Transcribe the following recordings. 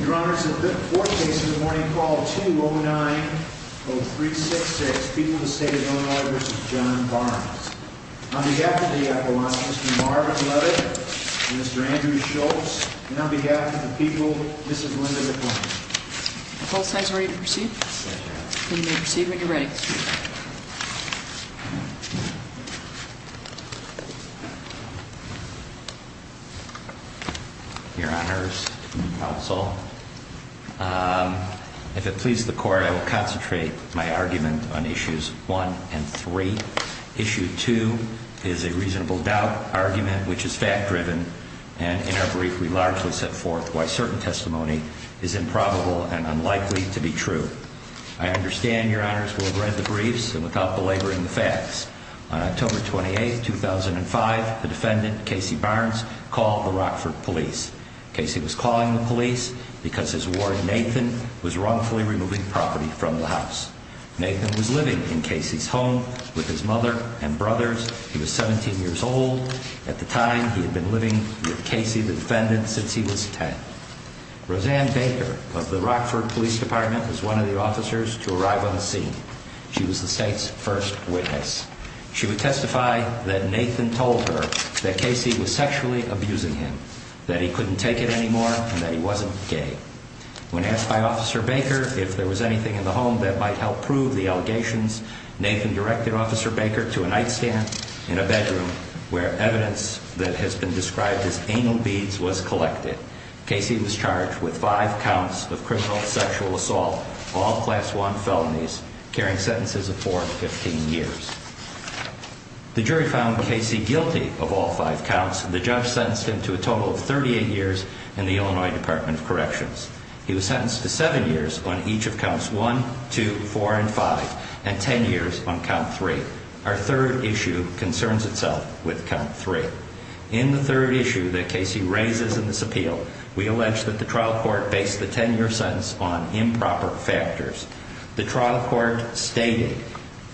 Your Honor, it's the fourth case of the morning, call 2090366, People of the State of Illinois v. John Barnes. On behalf of the Appellant, Mr. Marvin Levitt and Mr. Andrew Schultz, and on behalf of the People, Mrs. Melinda DePlante. Both sides ready to proceed? Yes, Your Honor. Then you may proceed when you're ready. Thank you. Your Honors, Counsel, if it pleases the Court, I will concentrate my argument on Issues 1 and 3. Issue 2 is a reasonable doubt argument, which is fact-driven, and in our brief we largely set forth why certain testimony is improbable and unlikely to be true. I understand, Your Honors, we'll read the briefs and without belaboring the facts. On October 28, 2005, the defendant, Casey Barnes, called the Rockford Police. Casey was calling the police because his warden, Nathan, was wrongfully removing property from the house. Nathan was living in Casey's home with his mother and brothers. He was 17 years old. At the time, he had been living with Casey, the defendant, since he was 10. Roseanne Baker of the Rockford Police Department was one of the officers to arrive on the scene. She was the state's first witness. She would testify that Nathan told her that Casey was sexually abusing him, that he couldn't take it anymore, and that he wasn't gay. When asked by Officer Baker if there was anything in the home that might help prove the allegations, Nathan directed Officer Baker to a nightstand in a bedroom where evidence that has been described as anal beads was collected. Casey was charged with five counts of criminal sexual assault, all Class I felonies, carrying sentences of four to 15 years. The jury found Casey guilty of all five counts. The judge sentenced him to a total of 38 years in the Illinois Department of Corrections. He was sentenced to seven years on each of Counts 1, 2, 4, and 5, and 10 years on Count 3. Our third issue concerns itself with Count 3. In the third issue that Casey raises in this appeal, we allege that the trial court based the 10-year sentence on improper factors. The trial court stated,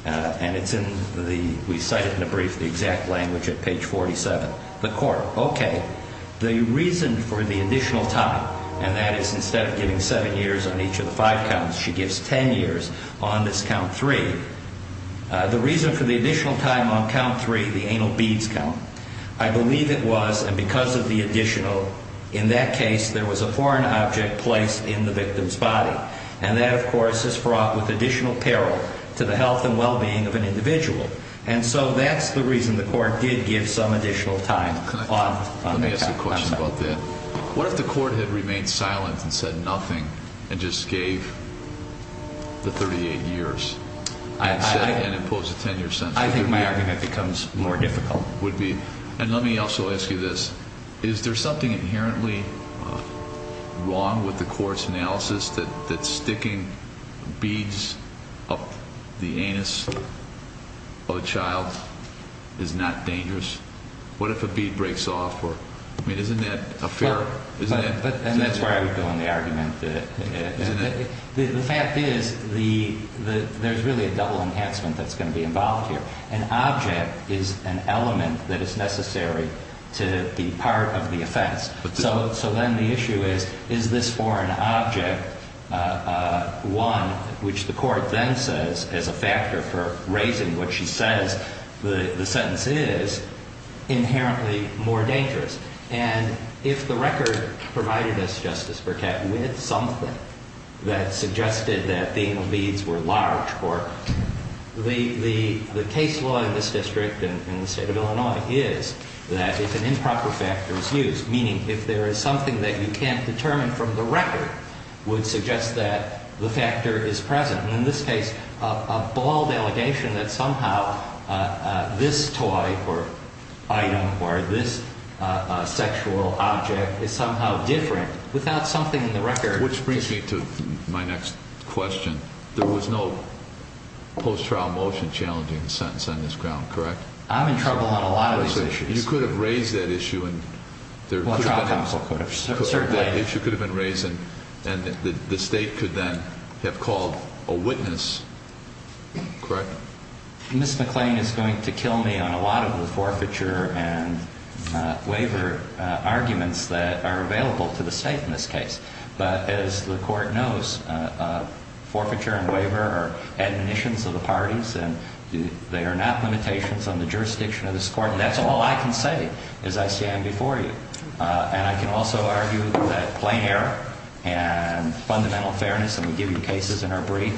and it's in the, we cite it in a brief, the exact language at page 47. The court, okay, the reason for the additional time, and that is instead of giving seven years on each of the five counts, she gives 10 years on this Count 3. The reason for the additional time on Count 3, the anal beads count, I believe it was, and because of the additional, in that case, there was a foreign object placed in the victim's body. And that, of course, is fraught with additional peril to the health and well-being of an individual. And so that's the reason the court did give some additional time on the Count 3. I have a question about that. What if the court had remained silent and said nothing and just gave the 38 years and imposed a 10-year sentence? I think my argument becomes more difficult. Would be. And let me also ask you this. Is there something inherently wrong with the court's analysis that sticking beads up the anus of a child is not dangerous? What if a bead breaks off? I mean, isn't that a fair? And that's where I would go in the argument. The fact is there's really a double enhancement that's going to be involved here. An object is an element that is necessary to be part of the offense. So then the issue is, is this foreign object, one, which the court then says is a factor for raising what she says the sentence is, inherently more dangerous? And if the record provided us, Justice Burkett, with something that suggested that being beads were large, the case law in this district and in the state of Illinois is that if an improper factor is used, meaning if there is something that you can't determine from the record, would suggest that the factor is present. And in this case, a bald allegation that somehow this toy or item or this sexual object is somehow different without something in the record. Which brings me to my next question. There was no post-trial motion challenging the sentence on this ground, correct? I'm in trouble on a lot of these issues. You could have raised that issue and there could have been. Well, a trial counsel could have. That issue could have been raised and the state could then have called a witness, correct? Ms. McClain is going to kill me on a lot of the forfeiture and waiver arguments that are available to the state in this case. But as the court knows, forfeiture and waiver are admonitions of the parties and they are not limitations on the jurisdiction of this court. And that's all I can say as I stand before you. And I can also argue that plain error and fundamental fairness, and we give you cases in our brief,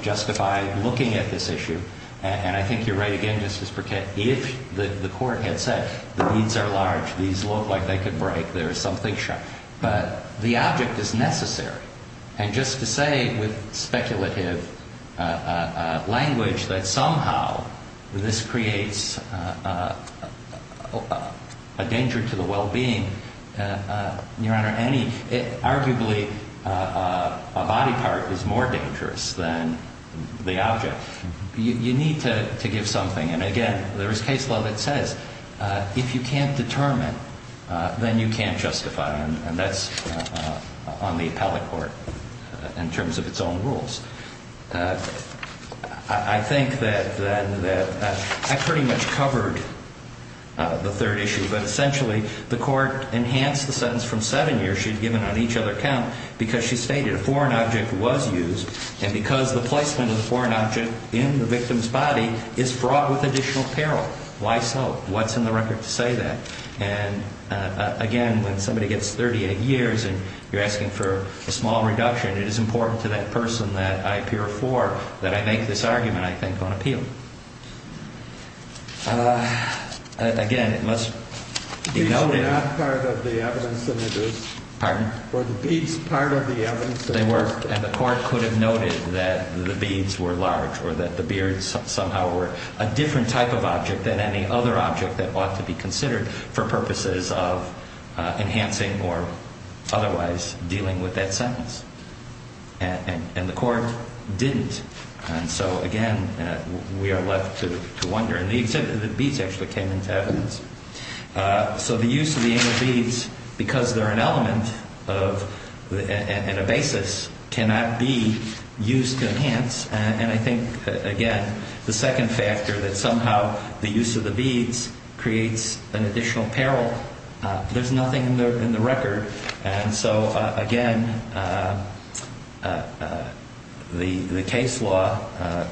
justify looking at this issue. And I think you're right again, Justice Burkett, if the court had said the beads are large, these look like they could break, there is something sharp. Your Honor, arguably a body part is more dangerous than the object. You need to give something. And again, there is case law that says if you can't determine, then you can't justify. And that's on the appellate court in terms of its own rules. I think that I pretty much covered the third issue. But essentially the court enhanced the sentence from seven years she had given on each other count because she stated a foreign object was used. And because the placement of the foreign object in the victim's body is fraught with additional peril. Why so? What's in the record to say that? And again, when somebody gets 38 years and you're asking for a small reduction, it is important to that person that I appear for that I make this argument, I think, on appeal. Again, it must be noted. The beads were not part of the evidence. Pardon? Were the beads part of the evidence? They were. And the court could have noted that the beads were large or that the beards somehow were a different type of object than any other object that ought to be considered for purposes of enhancing or otherwise dealing with that sentence. And the court didn't. And so, again, we are left to wonder. And the beads actually came into evidence. So the use of the beads, because they're an element and a basis, cannot be used to enhance. And I think, again, the second factor that somehow the use of the beads creates an additional peril. There's nothing in the record. And so, again, the case law,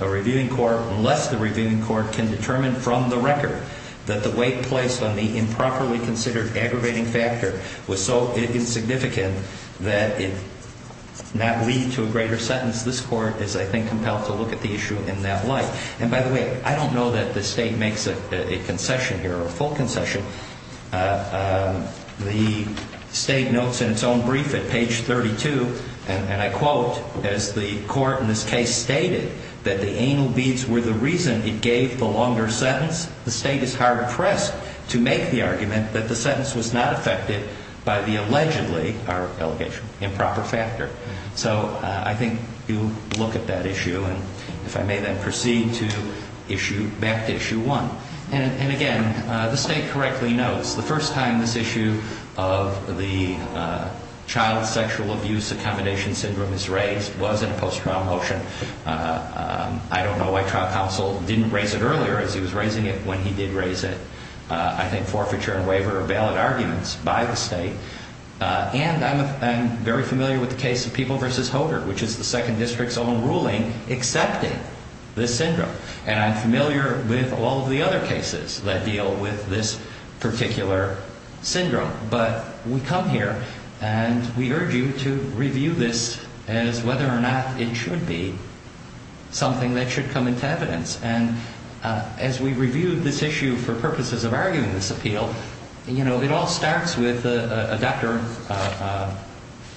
a reviewing court, unless the reviewing court can determine from the record that the weight placed on the improperly considered aggravating factor was so insignificant that it did not lead to a greater sentence, this court is, I think, compelled to look at the issue in that light. And, by the way, I don't know that the state makes a concession here or a full concession. The state notes in its own brief at page 32, and I quote, as the court in this case stated, that the anal beads were the reason it gave the longer sentence. The state is hard-pressed to make the argument that the sentence was not affected by the allegedly, our allegation, improper factor. So I think you look at that issue. And if I may then proceed to issue, back to issue one. And, again, the state correctly notes the first time this issue of the child sexual abuse accommodation syndrome is raised was in a post-trial motion. I don't know why trial counsel didn't raise it earlier as he was raising it when he did raise it. I think forfeiture and waiver are valid arguments by the state. And I'm very familiar with the case of People v. Hodor, which is the second district's own ruling accepting this syndrome. And I'm familiar with all of the other cases that deal with this particular syndrome. But we come here and we urge you to review this as whether or not it should be something that should come into evidence. And as we review this issue for purposes of arguing this appeal, you know, it all starts with a Dr.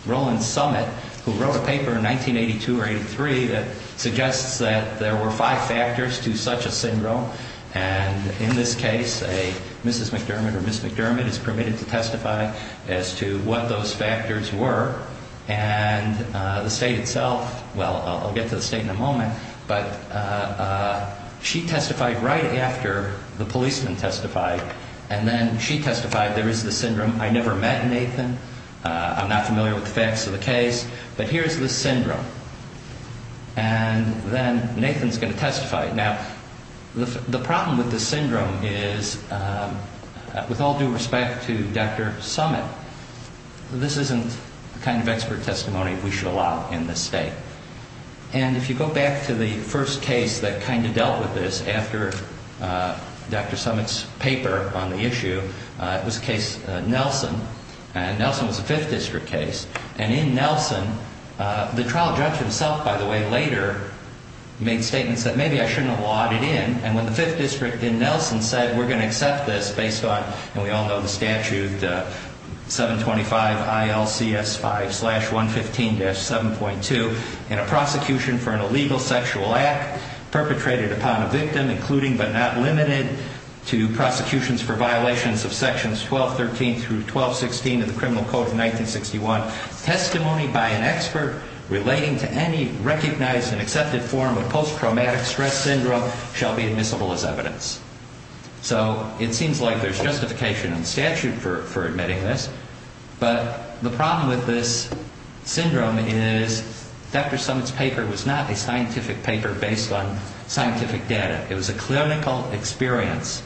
Roland Summitt, who wrote a paper in 1982 or 83 that suggests that there were five factors to such a syndrome. And in this case, a Mrs. McDermott or Ms. McDermott is permitted to testify as to what those factors were. And the state itself, well, I'll get to the state in a moment, but she testified right after the policeman testified. And then she testified there is the syndrome. I never met Nathan. I'm not familiar with the facts of the case. But here's the syndrome. And then Nathan's going to testify. Now, the problem with this syndrome is, with all due respect to Dr. Summitt, this isn't the kind of expert testimony we should allow in this state. And if you go back to the first case that kind of dealt with this after Dr. Summitt's paper on the issue, it was case Nelson. And Nelson was a Fifth District case. And in Nelson, the trial judge himself, by the way, later made statements that maybe I shouldn't have lawed it in. And when the Fifth District in Nelson said, we're going to accept this based on, and we all know the statute, 725 ILCS 5 slash 115 dash 7.2 in a prosecution for an illegal sexual act perpetrated upon a victim, including but not limited to prosecutions for violations of sections 1213 through 1216 of the Criminal Code of 1961, testimony by an expert relating to any recognized and accepted form of post-traumatic stress syndrome shall be admissible as evidence. So it seems like there's justification in statute for admitting this. But the problem with this syndrome is Dr. Summitt's paper was not a scientific paper based on scientific data. It was a clinical experience.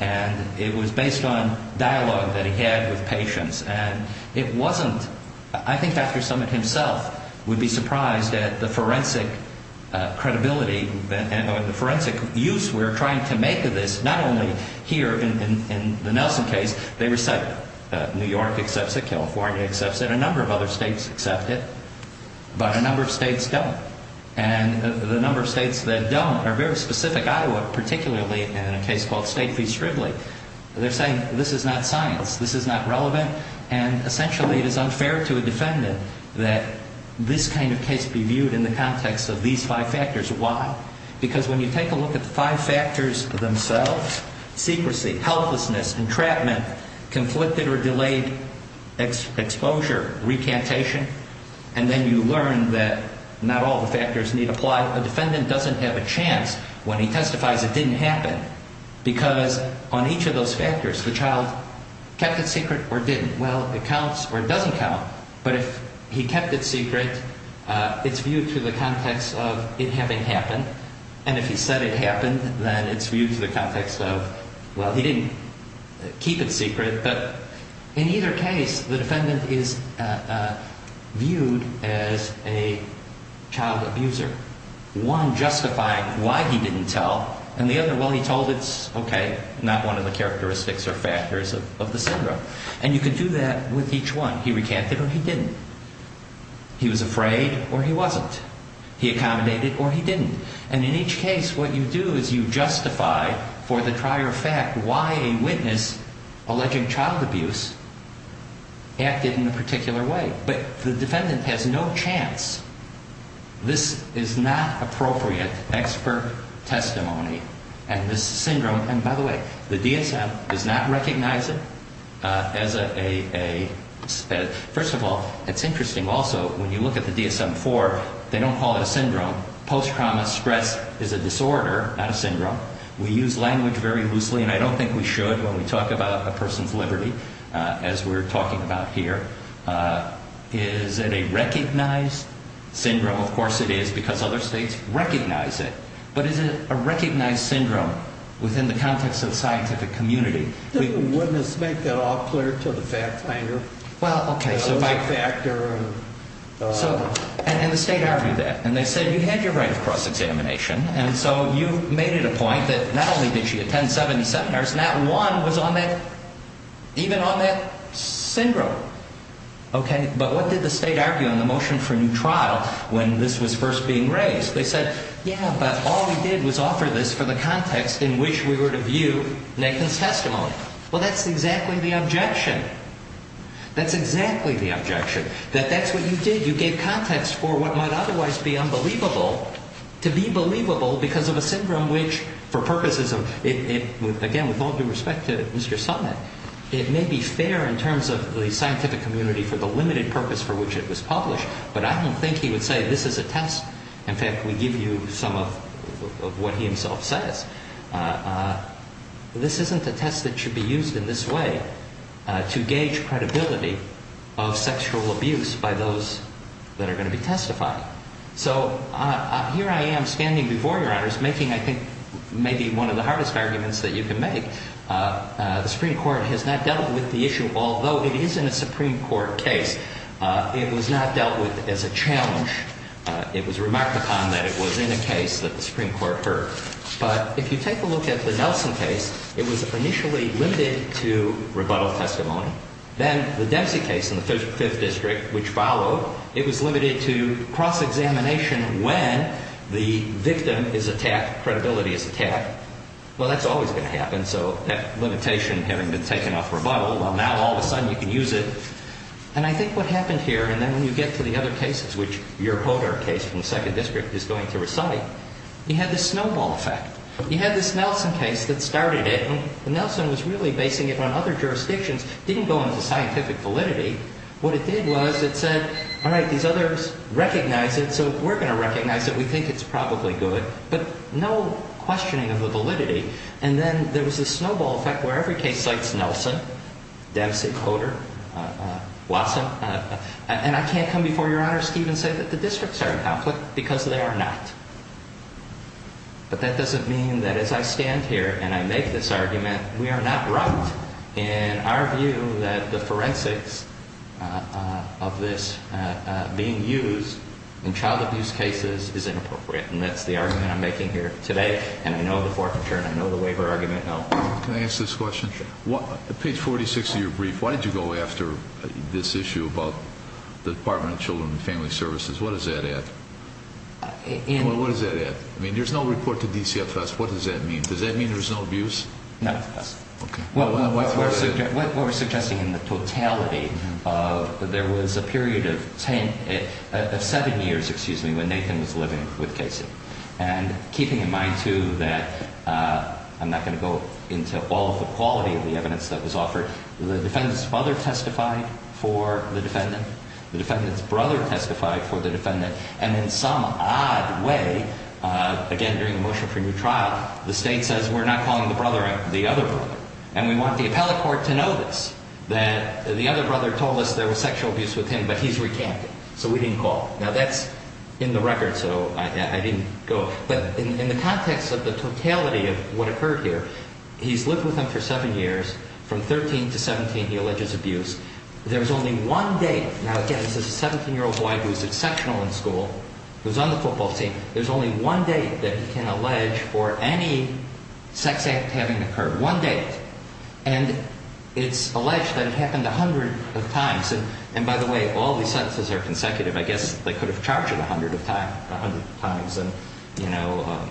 And it was based on dialogue that he had with patients. And it wasn't, I think Dr. Summitt himself would be surprised at the forensic credibility, the forensic use we're trying to make of this, not only here in the Nelson case. They recite it. New York accepts it. California accepts it. A number of other states accept it. But a number of states don't. And the number of states that don't are very specific. Iowa particularly in a case called State v. Shrively. They're saying this is not science. This is not relevant. And essentially it is unfair to a defendant that this kind of case be viewed in the context of these five factors. Why? Because when you take a look at the five factors themselves, secrecy, helplessness, entrapment, conflicted or delayed exposure, recantation, and then you learn that not all the factors need apply, a defendant doesn't have a chance when he testifies it didn't happen because on each of those factors the child kept it secret or didn't. Well, it counts or doesn't count. But if he kept it secret, it's viewed to the context of it having happened. And if he said it happened, then it's viewed to the context of, well, he didn't keep it secret. But in either case, the defendant is viewed as a child abuser, one justifying why he didn't tell and the other, well, he told it's okay, not one of the characteristics or factors of the syndrome. And you can do that with each one. He recanted or he didn't. He was afraid or he wasn't. He accommodated or he didn't. And in each case what you do is you justify for the prior fact why a witness alleging child abuse acted in a particular way. But the defendant has no chance. This is not appropriate expert testimony. And this syndrome, and by the way, the DSM does not recognize it as a, first of all, it's interesting also when you look at the DSM-IV, they don't call it a syndrome. Post-trauma stress is a disorder, not a syndrome. We use language very loosely, and I don't think we should when we talk about a person's liberty as we're talking about here. Is it a recognized syndrome? Of course it is because other states recognize it. But is it a recognized syndrome within the context of scientific community? Wouldn't a witness make that all clear to the fact finder? Well, okay. Those are factors. And the state argued that. And they said you had your right of cross-examination, and so you made it a point that not only did she attend 70 seminars, not one was on that, even on that syndrome. Okay? But what did the state argue on the motion for new trial when this was first being raised? They said, yeah, but all we did was offer this for the context in which we were to view Nathan's testimony. Well, that's exactly the objection. That's exactly the objection, that that's what you did. You gave context for what might otherwise be unbelievable to be believable because of a syndrome which, for purposes of, again, with all due respect to Mr. Summitt, it may be fair in terms of the scientific community for the limited purpose for which it was published, but I don't think he would say this is a test. In fact, we give you some of what he himself says. This isn't a test that should be used in this way to gauge credibility of sexual abuse by those that are going to be testifying. So here I am standing before Your Honors making, I think, maybe one of the hardest arguments that you can make. The Supreme Court has not dealt with the issue, although it is in a Supreme Court case. It was not dealt with as a challenge. It was remarked upon that it was in a case that the Supreme Court heard. But if you take a look at the Nelson case, it was initially limited to rebuttal testimony. Then the Dempsey case in the 5th District, which followed, it was limited to cross-examination when the victim is attacked, credibility is attacked. Well, that's always going to happen, so that limitation having been taken off rebuttal, well, now all of a sudden you can use it. And I think what happened here, and then when you get to the other cases, which your Hodor case from the 2nd District is going to recite, you had this snowball effect. You had this Nelson case that started it, and Nelson was really basing it on other jurisdictions. It didn't go into scientific validity. What it did was it said, all right, these others recognize it, so we're going to recognize it. We think it's probably good, but no questioning of the validity. And then there was this snowball effect where every case cites Nelson, Dempsey, Hodor, Watson. And I can't come before Your Honors, Steve, and say that the districts are in conflict because they are not. But that doesn't mean that as I stand here and I make this argument, we are not right in our view that the forensics of this being used in child abuse cases is inappropriate. And that's the argument I'm making here today, and I know the forfeiture and I know the waiver argument. Can I ask this question? Sure. On page 46 of your brief, why did you go after this issue about the Department of Children and Family Services? What does that add? What does that add? I mean, there's no report to DCFS. What does that mean? Does that mean there's no abuse? No. Okay. What we're suggesting in the totality of there was a period of seven years, excuse me, when Nathan was living with Casey. And keeping in mind, too, that I'm not going to go into all of the quality of the evidence that was offered, and in some odd way, again, during the motion for new trial, the State says we're not calling the brother the other brother. And we want the appellate court to know this, that the other brother told us there was sexual abuse with him, but he's recanted. So we didn't call. Now, that's in the record, so I didn't go. But in the context of the totality of what occurred here, he's lived with him for seven years. From 13 to 17, he alleges abuse. There's only one date. Now, again, this is a 17-year-old boy who was exceptional in school, who was on the football team. There's only one date that he can allege for any sex act having occurred, one date. And it's alleged that it happened a hundred of times. And, by the way, all these sentences are consecutive. I guess they could have charged it a hundred of times, you know,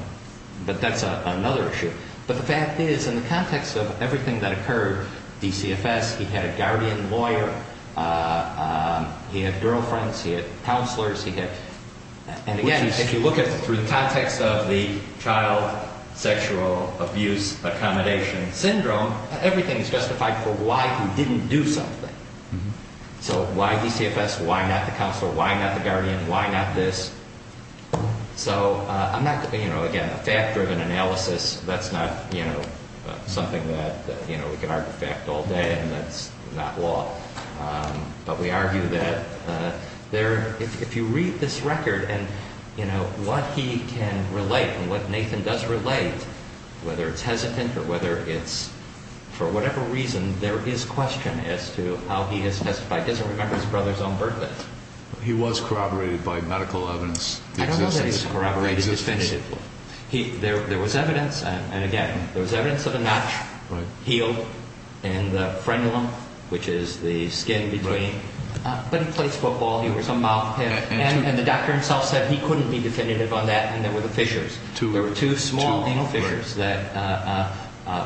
but that's another issue. But the fact is, in the context of everything that occurred, DCFS, he had a guardian lawyer. He had girlfriends. He had counselors. And, again, if you look at it through the context of the child sexual abuse accommodation syndrome, everything is justified for why he didn't do something. So why DCFS? Why not the counselor? Why not the guardian? Why not this? So, again, a fact-driven analysis, that's not something that we can argue fact all day, and that's not law. But we argue that if you read this record and what he can relate and what Nathan does relate, whether it's hesitant or whether it's for whatever reason, there is question as to how he has testified. He doesn't remember his brother's own birth date. He was corroborated by medical evidence. I don't know that he was corroborated definitively. There was evidence, and, again, there was evidence of a notch healed in the frenulum, which is the skin between. But he plays football. He was a mouthpick. And the doctor himself said he couldn't be definitive on that, and there were the fissures. There were two small fissures that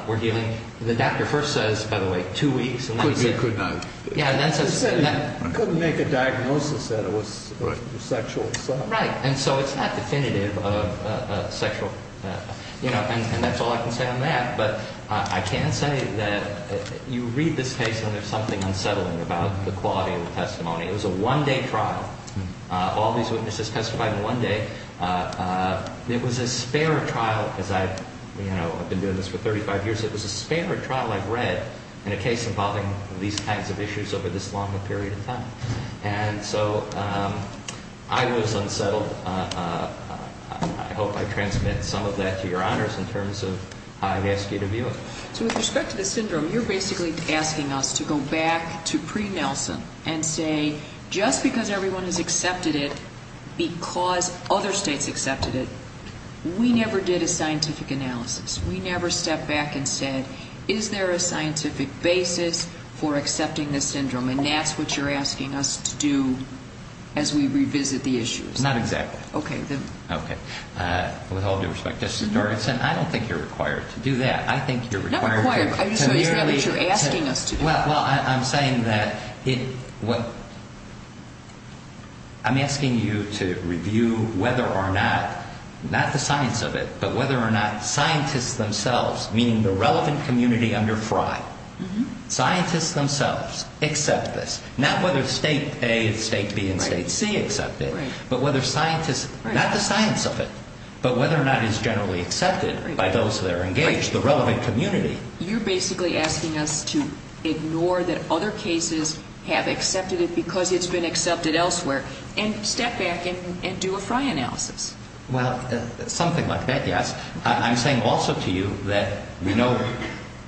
were healing. The doctor first says, by the way, two weeks. Couldn't make a diagnosis. The diagnosis said it was sexual assault. Right. And so it's not definitive of sexual, you know, and that's all I can say on that. But I can say that you read this case and there's something unsettling about the quality of the testimony. It was a one-day trial. All these witnesses testified in one day. It was a spare trial, because I've been doing this for 35 years. It was a spare trial I've read in a case involving these kinds of issues over this longer period of time. And so I was unsettled. I hope I transmit some of that to your honors in terms of how I've asked you to view it. So with respect to the syndrome, you're basically asking us to go back to pre-Nelson and say just because everyone has accepted it because other states accepted it, we never did a scientific analysis. We never stepped back and said, is there a scientific basis for accepting this syndrome? And that's what you're asking us to do as we revisit the issues. Not exactly. Okay, then. Okay. With all due respect, Justice Gertzen, I don't think you're required to do that. I think you're required to. Not required. I'm just saying it's not what you're asking us to do. Well, I'm saying that what I'm asking you to review whether or not, not the science of it, but whether or not scientists themselves, meaning the relevant community under FRI, scientists themselves accept this. Not whether State A and State B and State C accept it, but whether scientists, not the science of it, but whether or not it's generally accepted by those that are engaged, the relevant community. You're basically asking us to ignore that other cases have accepted it because it's been accepted elsewhere and step back and do a FRI analysis. Well, something like that, yes. I'm saying also to you that we know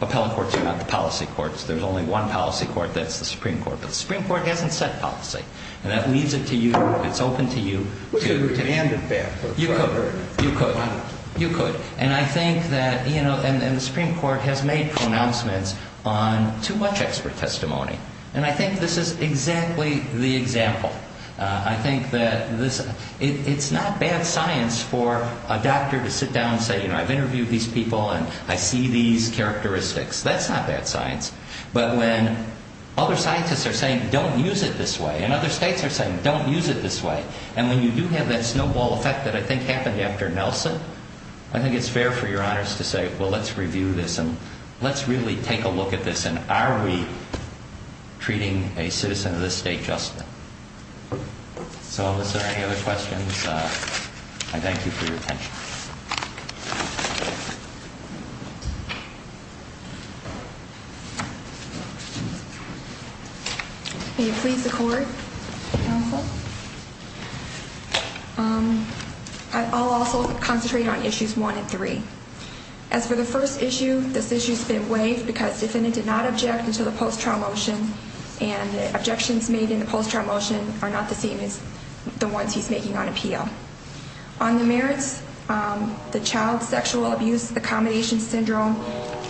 appellate courts are not the policy courts. There's only one policy court. That's the Supreme Court. But the Supreme Court hasn't set policy. And that leaves it to you. It's open to you. We could demand it back. You could. You could. You could. And I think that, you know, and the Supreme Court has made pronouncements on too much expert testimony. And I think this is exactly the example. I think that it's not bad science for a doctor to sit down and say, you know, I've interviewed these people and I see these characteristics. That's not bad science. But when other scientists are saying don't use it this way and other states are saying don't use it this way, and when you do have that snowball effect that I think happened after Nelson, I think it's fair for your honors to say, well, let's review this and let's really take a look at this and are we treating a citizen of this state justly? So unless there are any other questions, I thank you for your attention. May it please the Court. I'll also concentrate on issues one and three. As for the first issue, this issue's been waived because defendant did not object until the post-trial motion and the objections made in the post-trial motion are not the same as the ones he's making on appeal. On the merits, the child sexual abuse accommodation syndrome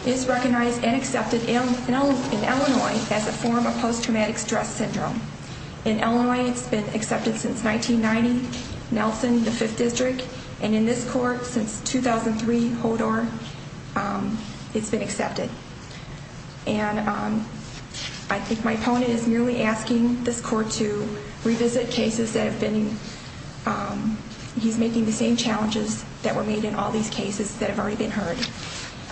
is recognized and accepted in Illinois as a form of post-traumatic stress syndrome. In Illinois, it's been accepted since 1990. Nelson, the Fifth District, and in this court since 2003, Hodor, it's been accepted. And I think my opponent is merely asking this court to revisit cases that have been he's making the same challenges that were made in all these cases that have already been heard.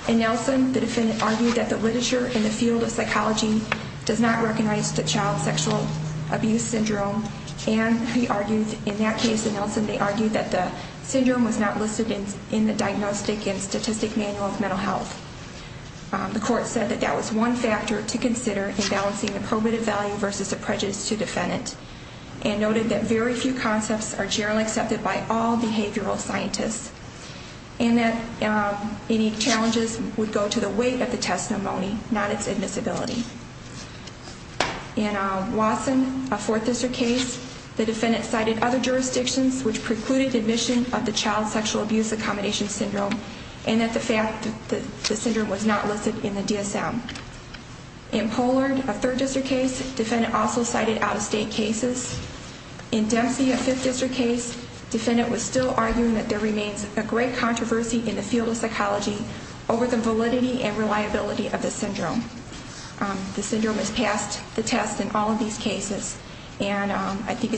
In Nelson, the defendant argued that the literature in the field of psychology does not recognize the child sexual abuse syndrome and he argued in that case in Nelson, they argued that the syndrome was not listed in the Diagnostic and Statistic Manual of Mental Health. The court said that that was one factor to consider in balancing the probative value versus the prejudice to defendant and noted that very few concepts are generally accepted by all behavioral scientists and that any challenges would go to the weight of the testimony, not its admissibility. In Watson, a Fourth District case, the defendant cited other jurisdictions which precluded admission of the child sexual abuse accommodation syndrome and that the fact that the syndrome was not listed in the DSM. In Pollard, a Third District case, the defendant also cited out-of-state cases. In Dempsey, a Fifth District case, the defendant was still arguing that there remains a great controversy in the field of psychology over the validity and reliability of the syndrome. The syndrome is past the test in all of these cases and I think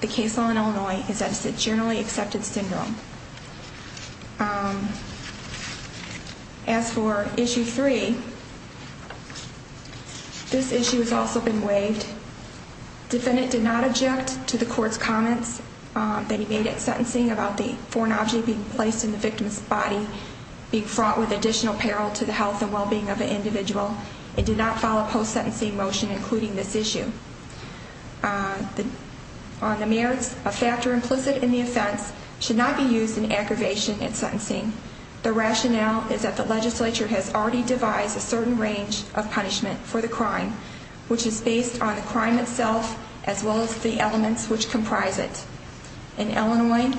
the case law in Illinois is that it's a generally accepted syndrome. As for Issue 3, this issue has also been waived. The defendant did not object to the court's comments that he made at sentencing about the foreign object being placed in the victim's body and being fraught with additional peril to the health and well-being of an individual. It did not follow a post-sentencing motion including this issue. On the merits, a factor implicit in the offense should not be used in aggravation in sentencing. The rationale is that the legislature has already devised a certain range of punishment for the crime, which is based on the crime itself as well as the elements which comprise it. In Illinois,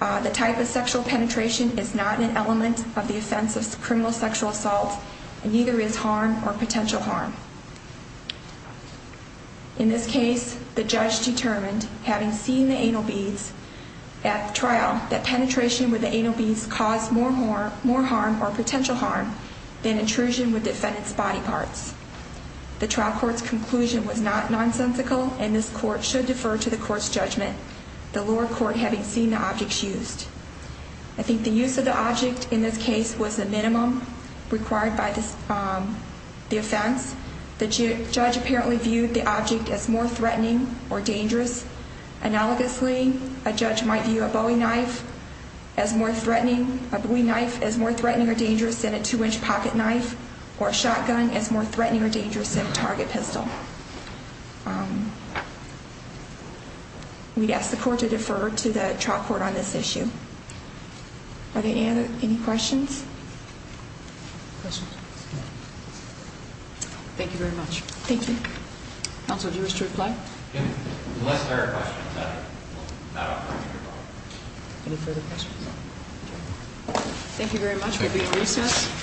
the type of sexual penetration is not an element of the offense of criminal sexual assault and neither is harm or potential harm. In this case, the judge determined, having seen the anal beads at trial, that penetration with the anal beads caused more harm or potential harm than intrusion with defendant's body parts. The trial court's conclusion was not nonsensical and this court should defer to the court's judgment, the lower court having seen the objects used. I think the use of the object in this case was the minimum required by the offense. The judge apparently viewed the object as more threatening or dangerous. Analogously, a judge might view a Bowie knife as more threatening or dangerous than a two-inch pocket knife or a shotgun as more threatening or dangerous than a target pistol. We'd ask the court to defer to the trial court on this issue. Are there any other questions? Thank you very much. Thank you. Counsel, do you wish to reply? Unless there are questions, I will not offer any further comment. Any further questions? Thank you very much. Thank you.